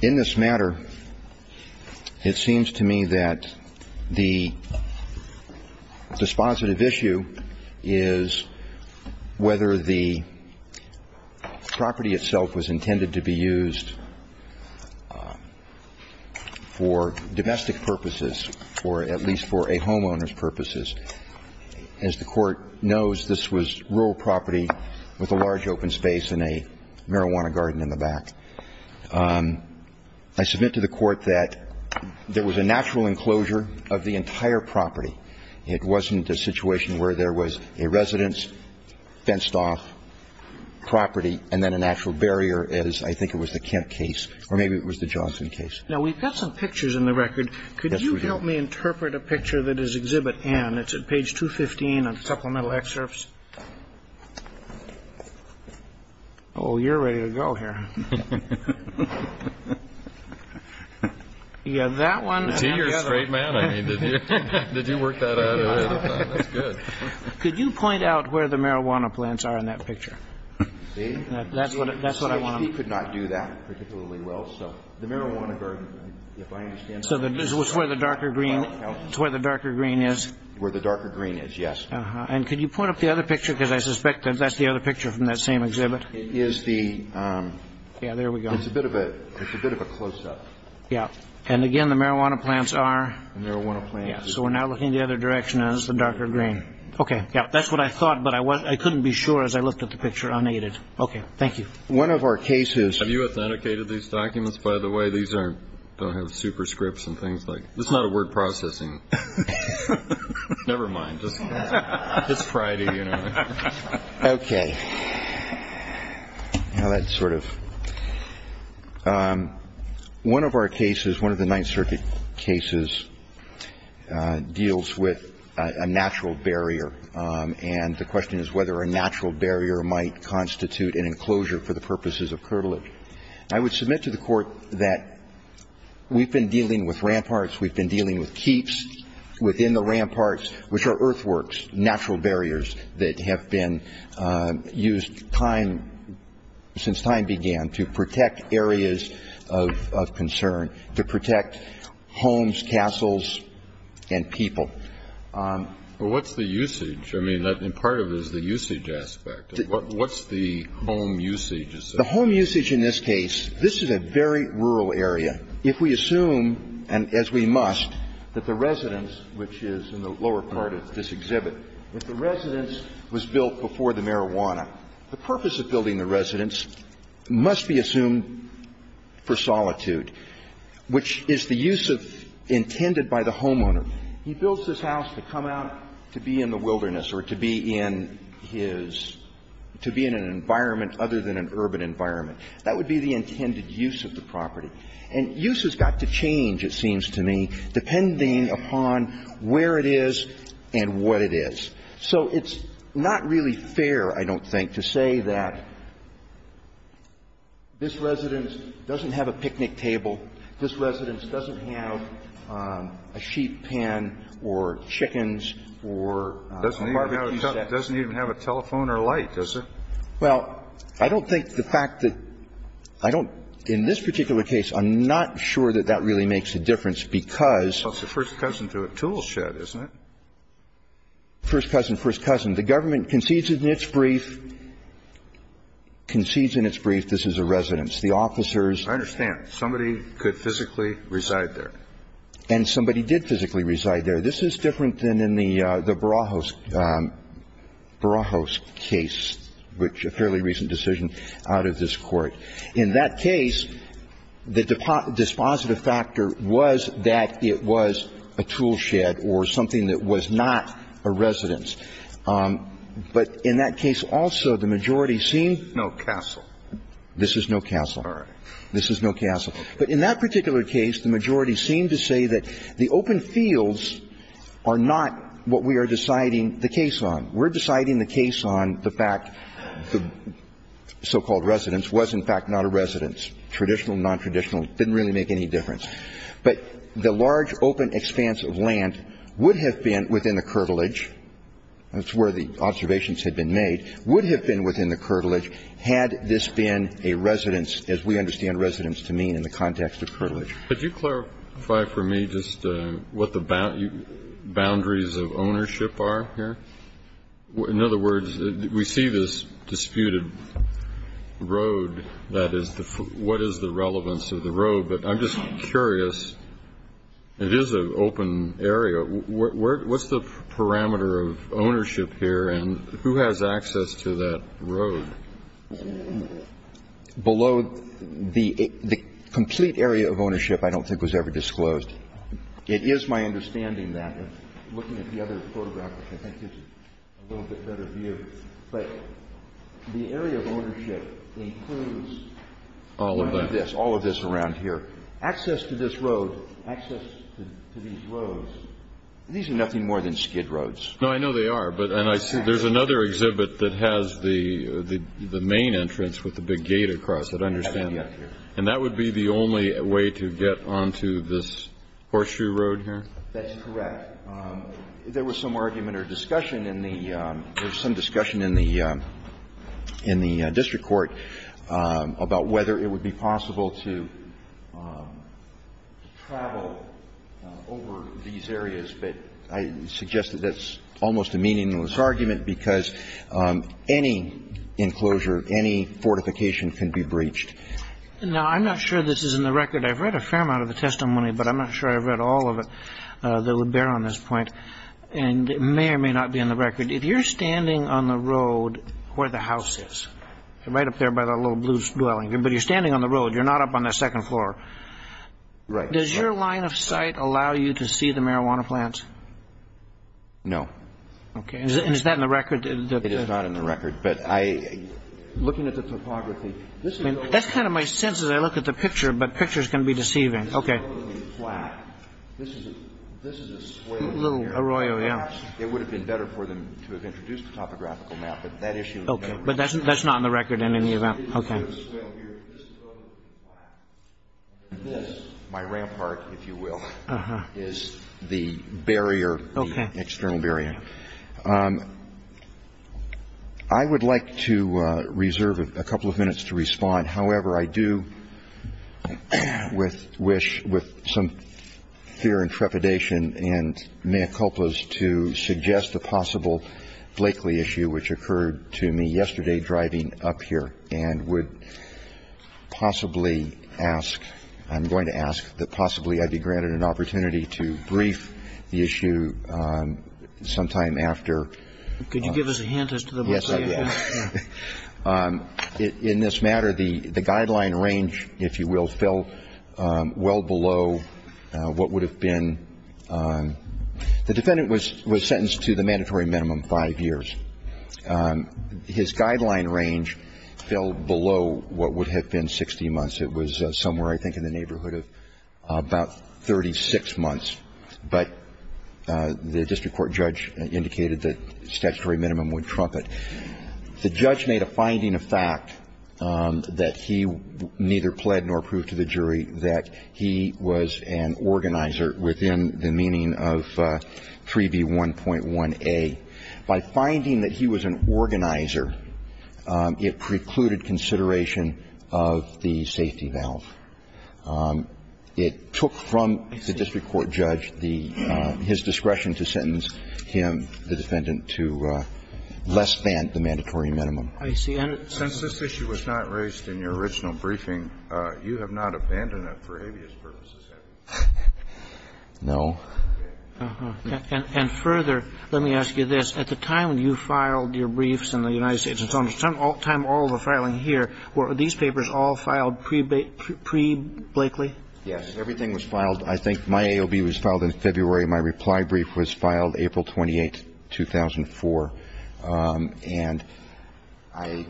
in this matter, it seems to me that the dispositive issue is whether the property itself was intended to be used for domestic purposes or at least for a homeowner's purposes. As the Court knows, this was rural property with a large open space and a marijuana garden in the back. I submit to the Court that there was a natural enclosure of the entire property. It wasn't a situation where there was a residence, fenced-off property, and then a natural barrier, as I think it was the Kent case, or maybe it was the Johnson case. Now, we've got some pictures in the record. Yes, we do. Could you help me interpret a picture that is Exhibit N? It's at page 215 on Supplemental Excerpts. Oh, you're ready to go here. Yeah, that one and the other. See, you're a straight man. I mean, did you work that out? That's good. Could you point out where the marijuana plants are in that picture? See? That's what I want to know. The CHP could not do that particularly well. So the marijuana garden, if I understand. So this is where the darker green is? Where the darker green is, yes. And could you point up the other picture, because I suspect that that's the other picture from that same exhibit. Yeah, there we go. It's a bit of a close-up. Yeah. And, again, the marijuana plants are? The marijuana plants. Yeah, so we're now looking the other direction, and it's the darker green. Okay. Yeah, that's what I thought, but I couldn't be sure as I looked at the picture unaided. Okay. Thank you. One of our cases. Have you authenticated these documents, by the way? These don't have superscripts and things. It's not a word processing. Never mind. It's Friday, you know. Okay. Now that's sort of. One of our cases, one of the Ninth Circuit cases, deals with a natural barrier, and the question is whether a natural barrier might constitute an enclosure for the purposes of curtilage. I would submit to the Court that we've been dealing with ramparts, we've been dealing with keeps within the ramparts, which are earthworks, natural barriers that have been used since time began to protect areas of concern, to protect homes, castles, and people. Well, what's the usage? I mean, part of it is the usage aspect. What's the home usage? The home usage in this case, this is a very rural area. If we assume, and as we must, that the residence, which is in the lower part of this exhibit, if the residence was built before the marijuana, the purpose of building the residence must be assumed for solitude, which is the use of, intended by the homeowner. He builds this house to come out to be in the wilderness or to be in his, to be in an environment other than an urban environment. That would be the intended use of the property. And use has got to change, it seems to me, depending upon where it is and what it is. So it's not really fair, I don't think, to say that this residence doesn't have a picnic table, this residence doesn't have a sheep pen or chickens or a barbecue set. It doesn't even have a telephone or light, does it? Well, I don't think the fact that I don't, in this particular case, I'm not sure that that really makes a difference because. Well, it's the first cousin to a tool shed, isn't it? First cousin, first cousin. The government concedes in its brief, concedes in its brief this is a residence. The officers. I understand. Somebody could physically reside there. And somebody did physically reside there. This is different than in the Barajos, Barajos case, which a fairly recent decision out of this Court. In that case, the dispositive factor was that it was a tool shed or something that was not a residence. But in that case also, the majority seemed. No castle. This is no castle. All right. This is no castle. But in that particular case, the majority seemed to say that the open fields are not what we are deciding the case on. We're deciding the case on the fact the so-called residence was, in fact, not a residence, traditional, nontraditional. Didn't really make any difference. But the large open expanse of land would have been within the curtilage. That's where the observations had been made. Would have been within the curtilage had this been a residence, as we understand it, and there would have been a residence to mean in the context of curtilage. Could you clarify for me just what the boundaries of ownership are here? In other words, we see this disputed road. That is, what is the relevance of the road? But I'm just curious. It is an open area. What's the parameter of ownership here and who has access to that road? Below the complete area of ownership I don't think was ever disclosed. It is my understanding that, looking at the other photograph, I think it's a little bit better view. But the area of ownership includes all of this, all of this around here. Access to this road, access to these roads, these are nothing more than skid roads. No, I know they are. And there's another exhibit that has the main entrance with the big gate across it, I understand. And that would be the only way to get onto this horseshoe road here? That's correct. There was some argument or discussion in the — there was some discussion in the district court about whether it would be possible to travel over these areas. But I suggest that that's almost a meaningless argument because any enclosure, any fortification can be breached. Now, I'm not sure this is in the record. I've read a fair amount of the testimony, but I'm not sure I've read all of it that would bear on this point. And it may or may not be in the record. If you're standing on the road where the house is, right up there by that little blue dwelling, but you're standing on the road, you're not up on that second floor. Right. Does your line of sight allow you to see the marijuana plant? No. Okay. And is that in the record? It is not in the record. But I — looking at the topography, this is — That's kind of my sense as I look at the picture, but picture's going to be deceiving. Okay. This is totally flat. This is a swale here. A little arroyo, yeah. Perhaps it would have been better for them to have introduced a topographical map, but that issue — Okay. But that's not in the record in any event. Okay. This is totally flat. This, my rampart, if you will, is the barrier, the external barrier. Okay. I would like to reserve a couple of minutes to respond. However, I do wish, with some fear and trepidation and mea culpas, to suggest a possible Blakeley issue, which occurred to me yesterday driving up here, and would possibly ask — I'm going to ask that possibly I be granted an opportunity to brief the issue sometime after. Could you give us a hint as to the Blakeley? Yes, I can. In this matter, the guideline range, if you will, fell well below what would have been — the defendant was sentenced to the mandatory minimum five years. His guideline range fell below what would have been 60 months. It was somewhere, I think, in the neighborhood of about 36 months. But the district court judge indicated that statutory minimum would trump it. The judge made a finding of fact that he neither pled nor proved to the jury that he was an organizer within the meaning of 3B1.1a. By finding that he was an organizer, it precluded consideration of the safety valve. It took from the district court judge the — his discretion to sentence him, the defendant, to less than the mandatory minimum. I see. And since this issue was not raised in your original briefing, you have not abandoned it for habeas purposes, have you? No. And further, let me ask you this. At the time when you filed your briefs in the United States and so on, at the time all the filing here, were these papers all filed pre-Blakeley? Yes. Everything was filed. I think my AOB was filed in February. My reply brief was filed April 28, 2004. And I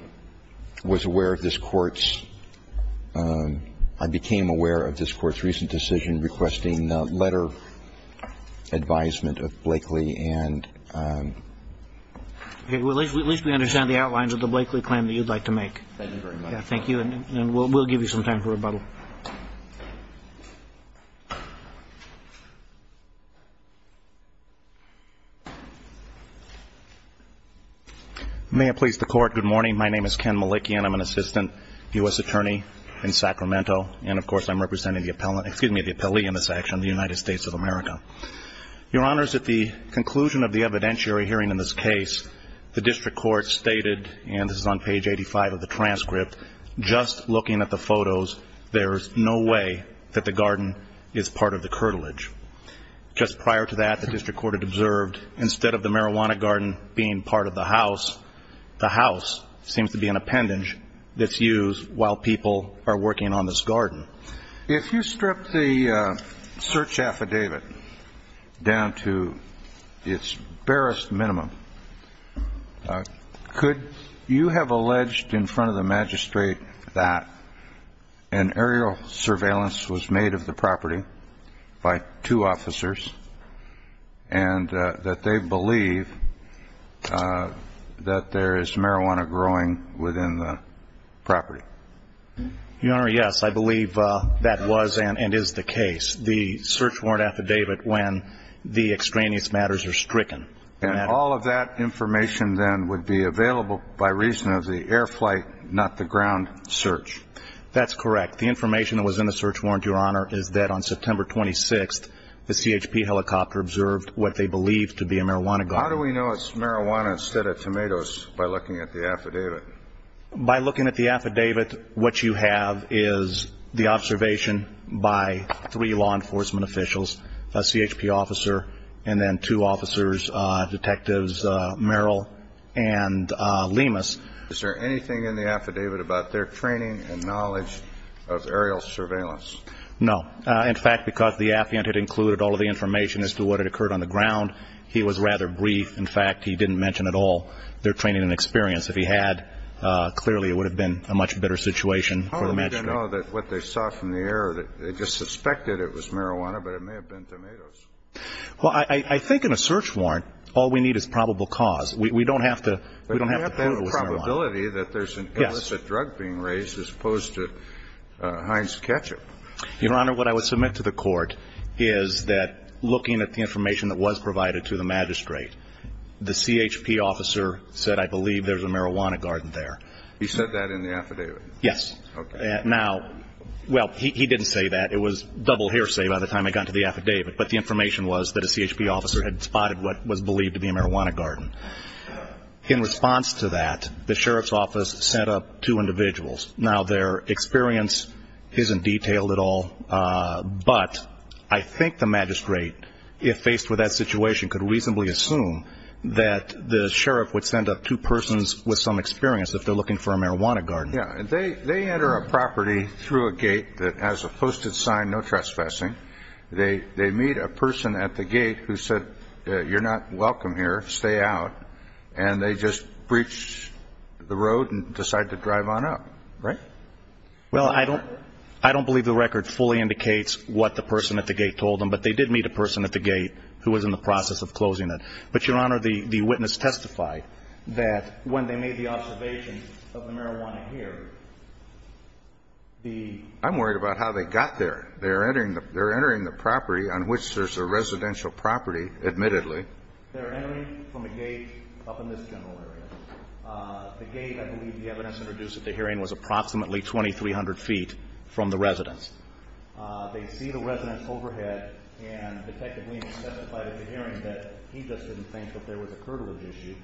was aware of this Court's — I became aware of this Court's recent decision in requesting letter advisement of Blakeley and — Okay. Well, at least we understand the outlines of the Blakeley claim that you'd like to make. Thank you very much. Thank you. And we'll give you some time for rebuttal. May it please the Court. Good morning. My name is Ken Malikian. I'm an assistant U.S. attorney in Sacramento. And, of course, I'm representing the appellant — excuse me, the appellee in this action, the United States of America. Your Honors, at the conclusion of the evidentiary hearing in this case, the district court stated, and this is on page 85 of the transcript, just looking at the photos, there's no way that the garden is part of the curtilage. Just prior to that, the district court had observed, instead of the marijuana garden being part of the house, the house seems to be an appendage that's used while people are working on this garden. If you strip the search affidavit down to its barest minimum, could you have alleged in front of the magistrate that an aerial surveillance was made of the property by two officers and that they believe that there is marijuana growing within the property? Your Honor, yes. I believe that was and is the case. The search warrant affidavit when the extraneous matters are stricken. And all of that information then would be available by reason of the air flight, not the ground search. That's correct. The information that was in the search warrant, Your Honor, is that on September 26th, the CHP helicopter observed what they believed to be a marijuana garden. How do we know it's marijuana instead of tomatoes by looking at the affidavit? By looking at the affidavit, what you have is the observation by three law enforcement officials, a CHP officer and then two officers, detectives Merrill and Lemus. Is there anything in the affidavit about their training and knowledge of aerial surveillance? No. In fact, because the affiant had included all of the information as to what had occurred on the ground, he was rather brief. In fact, he didn't mention at all their training and experience. If he had, clearly it would have been a much better situation for the magistrate. How do we then know that what they saw from the air, they just suspected it was marijuana, but it may have been tomatoes? Well, I think in a search warrant, all we need is probable cause. We don't have to prove it was marijuana. There's a probability that there's an illicit drug being raised as opposed to Heinz ketchup. Your Honor, what I would submit to the court is that looking at the information that was provided to the magistrate, the CHP officer said, I believe there's a marijuana garden there. He said that in the affidavit? Yes. Okay. Now, well, he didn't say that. It was double hearsay by the time I got to the affidavit, but the information was that a CHP officer had spotted what was believed to be a marijuana garden. In response to that, the sheriff's office sent up two individuals. Now, their experience isn't detailed at all, but I think the magistrate, if faced with that situation, could reasonably assume that the sheriff would send up two persons with some experience if they're looking for a marijuana garden. Yeah. They enter a property through a gate that has a posted sign, no trespassing. They meet a person at the gate who said, you're not welcome here, stay out, and they just breach the road and decide to drive on up, right? Well, I don't believe the record fully indicates what the person at the gate told them, but they did meet a person at the gate who was in the process of closing it. But, Your Honor, the witness testified that when they made the observation of the marijuana here, the ---- I'm worried about how they got there. They're entering the property on which there's a residential property, admittedly. They're entering from a gate up in this general area. The gate, I believe the evidence introduced at the hearing, was approximately 2,300 feet from the residence. They see the residence overhead, and Detective Lehman testified at the hearing that he just didn't think that there was a curtailage issue.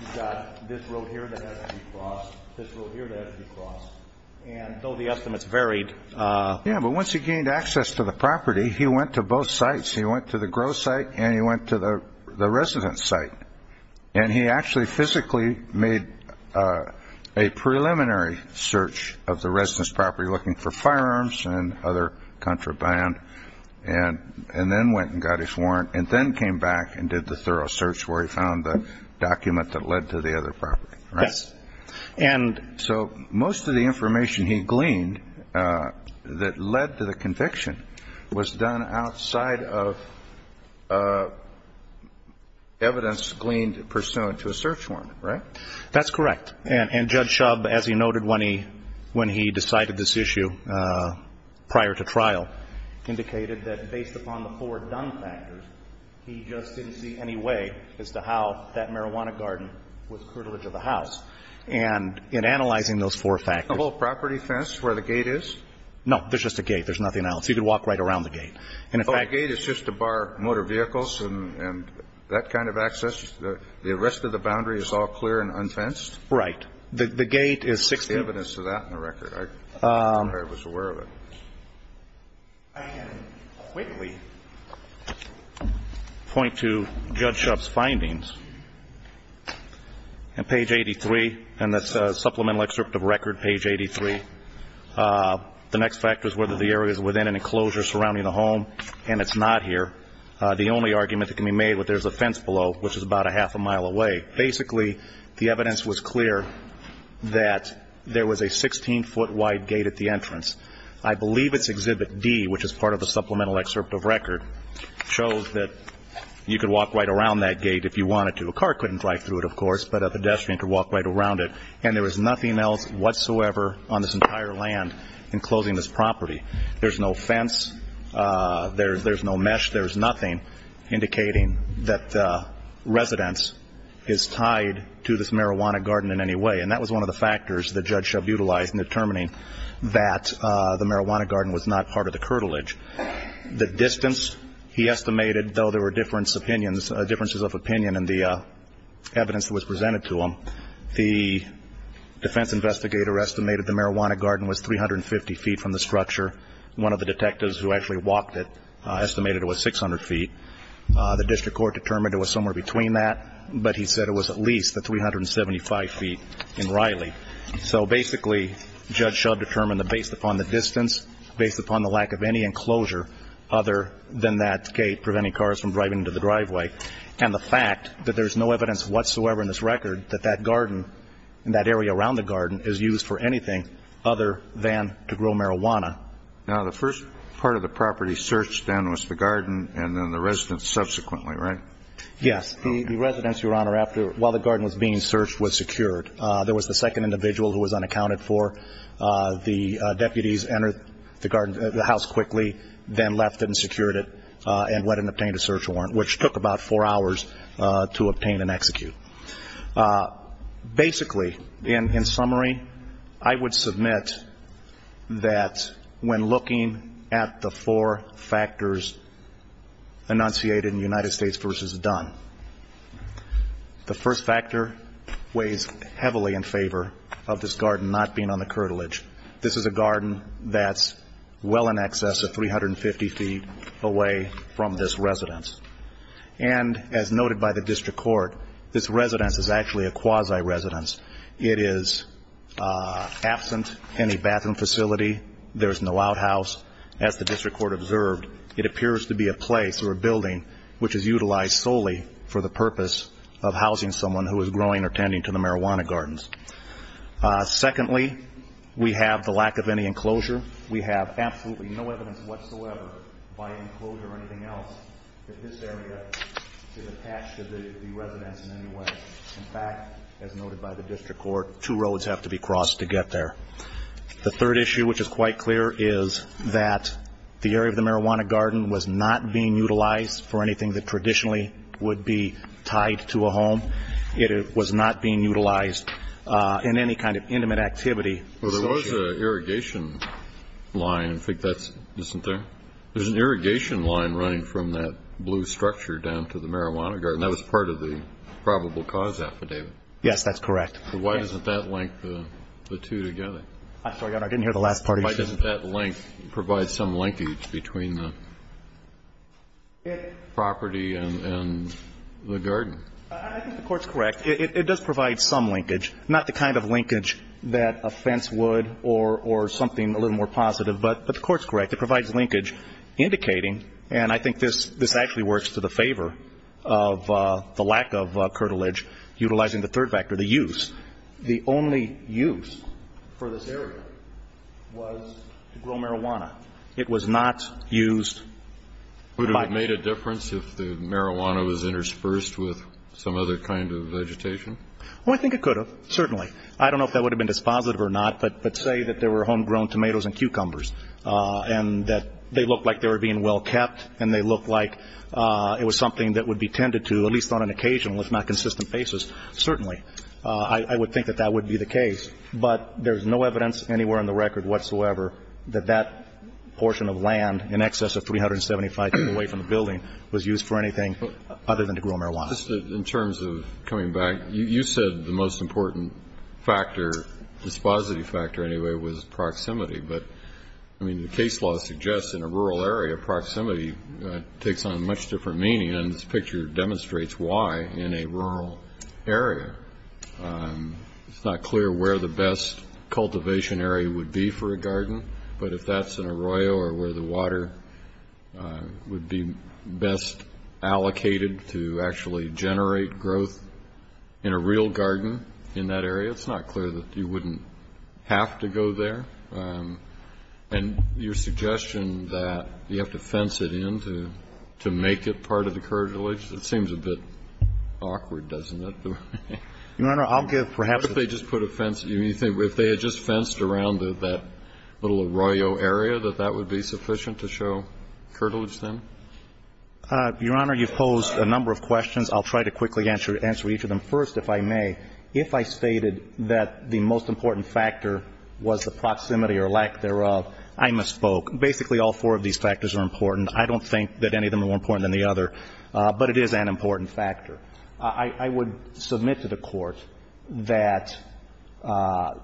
You've got this road here that has to be crossed, this road here that has to be crossed, and though the estimates varied. Yeah, but once he gained access to the property, he went to both sites. He went to the growth site and he went to the residence site, and he actually physically made a preliminary search of the residence property, looking for firearms and other contraband, and then went and got his warrant and then came back and did the thorough search where he found the document that led to the other property. Yes. So most of the information he gleaned that led to the conviction was done outside of evidence gleaned pursuant to a search warrant, right? That's correct, and Judge Shub, as he noted when he decided this issue prior to trial, indicated that based upon the four done factors, he just didn't see any way as to how that marijuana garden was curtailage of the house. And in analyzing those four factors. The whole property fence where the gate is? No, there's just a gate. There's nothing else. You can walk right around the gate. Oh, the gate is just to bar motor vehicles and that kind of access? The rest of the boundary is all clear and unfenced? Right. The gate is six feet. There's evidence of that in the record. I'm not sure I was aware of it. I can quickly point to Judge Shub's findings on page 83, and that's supplemental excerpt of record, page 83. The next factor is whether the area is within an enclosure surrounding the home, and it's not here. The only argument that can be made with there's a fence below, which is about a half a mile away. Basically, the evidence was clear that there was a 16-foot wide gate at the entrance. I believe it's exhibit D, which is part of the supplemental excerpt of record, shows that you could walk right around that gate if you wanted to. A car couldn't drive through it, of course, but a pedestrian could walk right around it. And there was nothing else whatsoever on this entire land enclosing this property. There's no fence. There's no mesh. There's nothing indicating that the residence is tied to this marijuana garden in any way. And that was one of the factors that Judge Shub utilized in determining that the marijuana garden was not part of the curtilage. The distance he estimated, though there were differences of opinion in the evidence that was presented to him, the defense investigator estimated the marijuana garden was 350 feet from the structure. One of the detectives who actually walked it estimated it was 600 feet. The district court determined it was somewhere between that, but he said it was at least the 375 feet in Riley. So basically, Judge Shub determined that based upon the distance, based upon the lack of any enclosure other than that gate preventing cars from driving into the driveway, and the fact that there's no evidence whatsoever in this record that that garden and that area around the garden is used for anything other than to grow marijuana. Now, the first part of the property searched then was the garden and then the residence subsequently, right? Yes. The residence, Your Honor, while the garden was being searched, was secured. There was the second individual who was unaccounted for. The deputies entered the house quickly, then left it and secured it and went and obtained a search warrant, which took about four hours to obtain and execute. Basically, in summary, I would submit that when looking at the four factors enunciated in United States v. Dunn, the first factor weighs heavily in favor of this garden not being on the curtilage. This is a garden that's well in excess of 350 feet away from this residence. And as noted by the district court, this residence is actually a quasi-residence. It is absent any bathroom facility. There is no outhouse. As the district court observed, it appears to be a place or a building which is utilized solely for the purpose of housing someone who is growing or tending to the marijuana gardens. Secondly, we have the lack of any enclosure. We have absolutely no evidence whatsoever by enclosure or anything else that this area is attached to the residence in any way. In fact, as noted by the district court, two roads have to be crossed to get there. The third issue, which is quite clear, is that the area of the marijuana garden was not being utilized for anything that traditionally would be tied to a home. It was not being utilized in any kind of intimate activity. Well, there was an irrigation line. I think that's, isn't there? There's an irrigation line running from that blue structure down to the marijuana garden. That was part of the probable cause affidavit. Yes, that's correct. So why doesn't that link the two together? I'm sorry, Your Honor. I didn't hear the last part of your question. Why doesn't that link provide some linkage between the property and the garden? I think the Court's correct. It does provide some linkage, not the kind of linkage that a fence would or something a little more positive. But the Court's correct. It provides linkage indicating, and I think this actually works to the favor of the lack of curtilage, utilizing the third factor, the use. The only use for this area was to grow marijuana. It was not used. Would it have made a difference if the marijuana was interspersed with some other kind of vegetation? Well, I think it could have, certainly. I don't know if that would have been dispositive or not, but say that there were homegrown tomatoes and cucumbers and that they looked like they were being well kept and they looked like it was something that would be tended to, at least on an occasional, if not consistent basis, certainly. I would think that that would be the case. But there's no evidence anywhere on the record whatsoever that that portion of land, in excess of 375 feet away from the building, was used for anything other than to grow marijuana. In terms of coming back, you said the most important factor, dispositive factor anyway, was proximity. But, I mean, the case law suggests in a rural area, proximity takes on a much different meaning, and this picture demonstrates why in a rural area. It's not clear where the best cultivation area would be for a garden, but if that's an arroyo or where the water would be best allocated to actually generate growth in a real garden in that area, it's not clear that you wouldn't have to go there. And your suggestion that you have to fence it in to make it part of the curtilage, it seems a bit awkward, doesn't it? Your Honor, I'll give perhaps a ---- If they just put a fence, if they had just fenced around that little arroyo area, that that would be sufficient to show curtilage then? Your Honor, you've posed a number of questions. I'll try to quickly answer each of them. First, if I may, if I stated that the most important factor was the proximity or lack thereof, I misspoke. Basically, all four of these factors are important. I don't think that any of them are more important than the other, but it is an important factor. I would submit to the Court that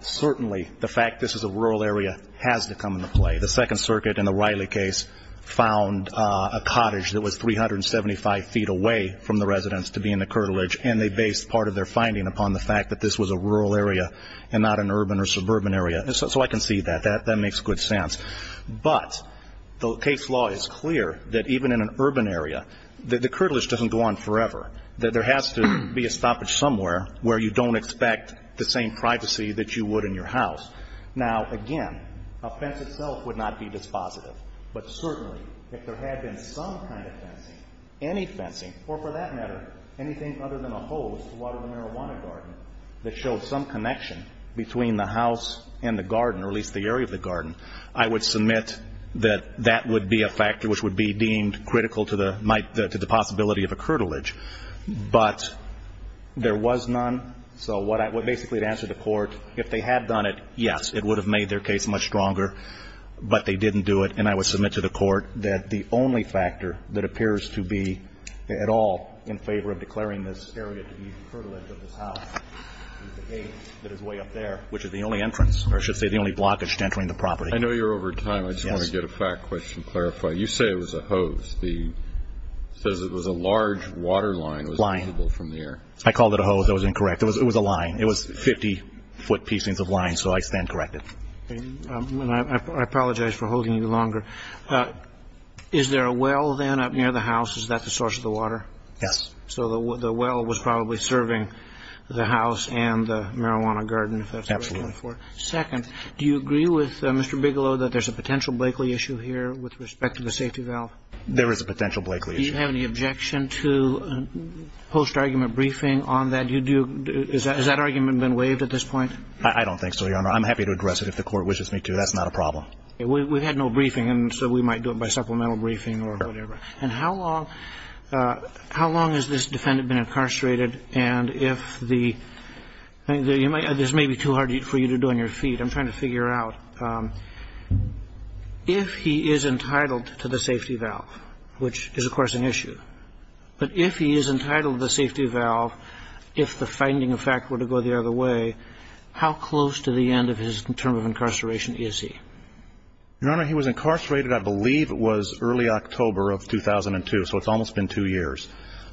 certainly the fact this is a rural area has to come into play. The Second Circuit in the Riley case found a cottage that was 375 feet away from the residence to be in the curtilage, and they based part of their finding upon the fact that this was a rural area and not an urban or suburban area. So I can see that. That makes good sense. But the case law is clear that even in an urban area, the curtilage doesn't go on forever, that there has to be a stoppage somewhere where you don't expect the same privacy that you would in your house. Now, again, a fence itself would not be dispositive, but certainly if there had been some kind of fencing, any fencing, or for that matter, anything other than a hose to water the marijuana garden that showed some connection between the house and the garden or at least the area of the garden, I would submit that that would be a factor which would be deemed critical to the possibility of a curtilage. But there was none, so basically to answer the Court, if they had done it, yes, it would have made their case much stronger, but they didn't do it. And I would submit to the Court that the only factor that appears to be at all in favor of declaring this area to be the curtilage of this house is the gate that is way up there, which is the only entrance, or I should say the only blockage to entering the property. I know you're over time. Yes. I just want to get a fact question clarified. You say it was a hose. It says it was a large water line. Line. It was visible from the air. I called it a hose. That was incorrect. It was a line. It was 50-foot pieces of line, so I stand corrected. I apologize for holding you longer. Is there a well then up near the house? Is that the source of the water? Yes. So the well was probably serving the house and the marijuana garden, if that's what you're looking for? Absolutely. Second, do you agree with Mr. Bigelow that there's a potential Blakeley issue here with respect to the safety valve? There is a potential Blakeley issue. Do you have any objection to post-argument briefing on that? Do you do – has that argument been waived at this point? I don't think so, Your Honor. I'm happy to address it if the court wishes me to. That's not a problem. We've had no briefing, and so we might do it by supplemental briefing or whatever. And how long has this defendant been incarcerated? And if the – this may be too hard for you to do on your feet. I'm trying to figure out. If he is entitled to the safety valve, which is, of course, an issue, but if he is entitled to the safety valve if the finding of fact were to go the other way, how close to the end of his term of incarceration is he? Your Honor, he was incarcerated, I believe, was early October of 2002. So it's almost been two years.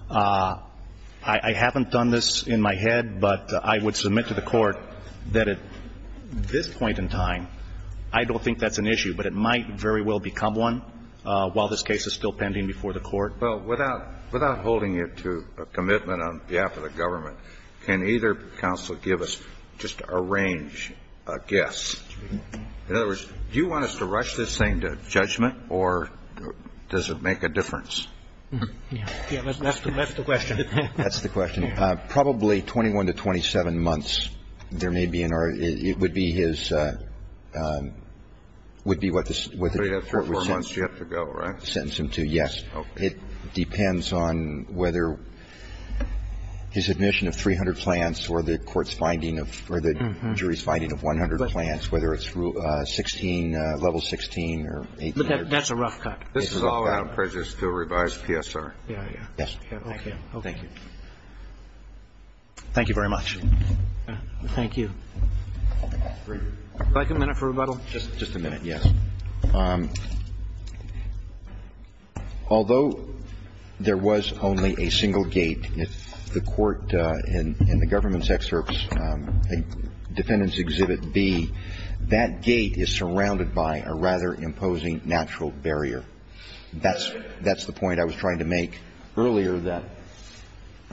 I haven't done this in my head, but I would submit to the Court that at this point in time, I don't think that's an issue, but it might very well become one while this case is still pending before the Court. Well, without holding you to a commitment on behalf of the government, can either counsel give us just a range, a guess? In other words, do you want us to rush this thing to judgment, or does it make a difference? That's the question. That's the question. Probably 21 to 27 months there may be, or it would be his – would be what the court would say. So you have three or four months you have to go, right? Sentence him to, yes. Okay. It depends on whether his admission of 300 plants or the court's finding of – or the jury's finding of 100 plants, whether it's level 16 or 18. That's a rough cut. This is all out prejudice to a revised PSR. Yes. Okay. Thank you. Thank you very much. Thank you. Would you like a minute for rebuttal? Just a minute, yes. Although there was only a single gate, the court in the government's excerpts in Defendant's Exhibit B, that gate is surrounded by a rather imposing natural barrier. That's the point I was trying to make earlier that,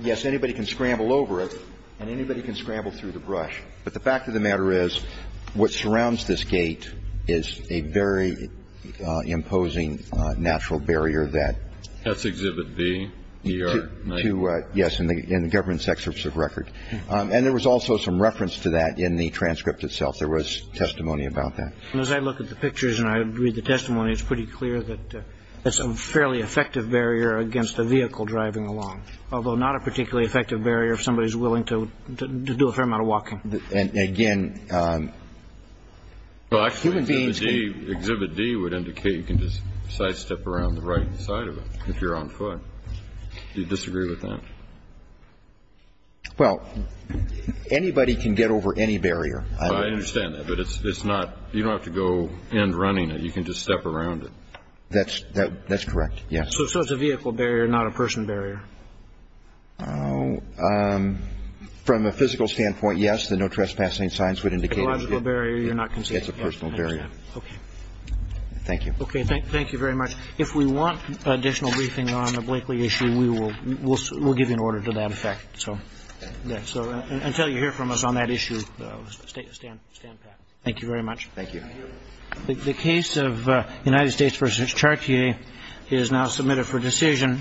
yes, anybody can scramble over it and anybody can scramble through the brush, but the fact of the matter is what surrounds this gate is a very imposing natural barrier that – That's Exhibit B, ER-9. Yes, in the government's excerpts of record. And there was also some reference to that in the transcript itself. There was testimony about that. And as I look at the pictures and I read the testimony, it's pretty clear that that's a fairly effective barrier against a vehicle driving along, although not a particularly effective barrier if somebody's willing to do a fair amount of walking. And, again – Well, actually, Exhibit D would indicate you can just sidestep around the right side of it if you're on foot. Do you disagree with that? Well, anybody can get over any barrier. I understand that, but it's not – you don't have to go in running it. You can just step around it. That's correct, yes. So it's a vehicle barrier, not a person barrier? From a physical standpoint, yes, the no trespassing signs would indicate it. A biological barrier you're not considering. It's a personal barrier. Okay. Thank you. Okay, thank you very much. If we want additional briefing on the Blakely issue, we'll give you an order to that effect. So until you hear from us on that issue, stand back. Thank you very much. Thank you. The case of United States v. Chartier is now submitted for decision.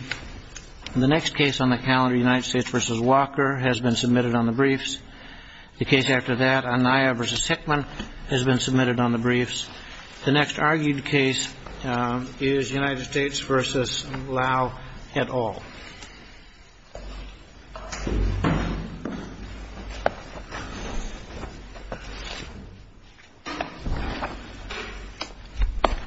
The next case on the calendar, United States v. Walker, has been submitted on the briefs. The case after that, Anaya v. Hickman, has been submitted on the briefs. The next argued case is United States v. Lau et al.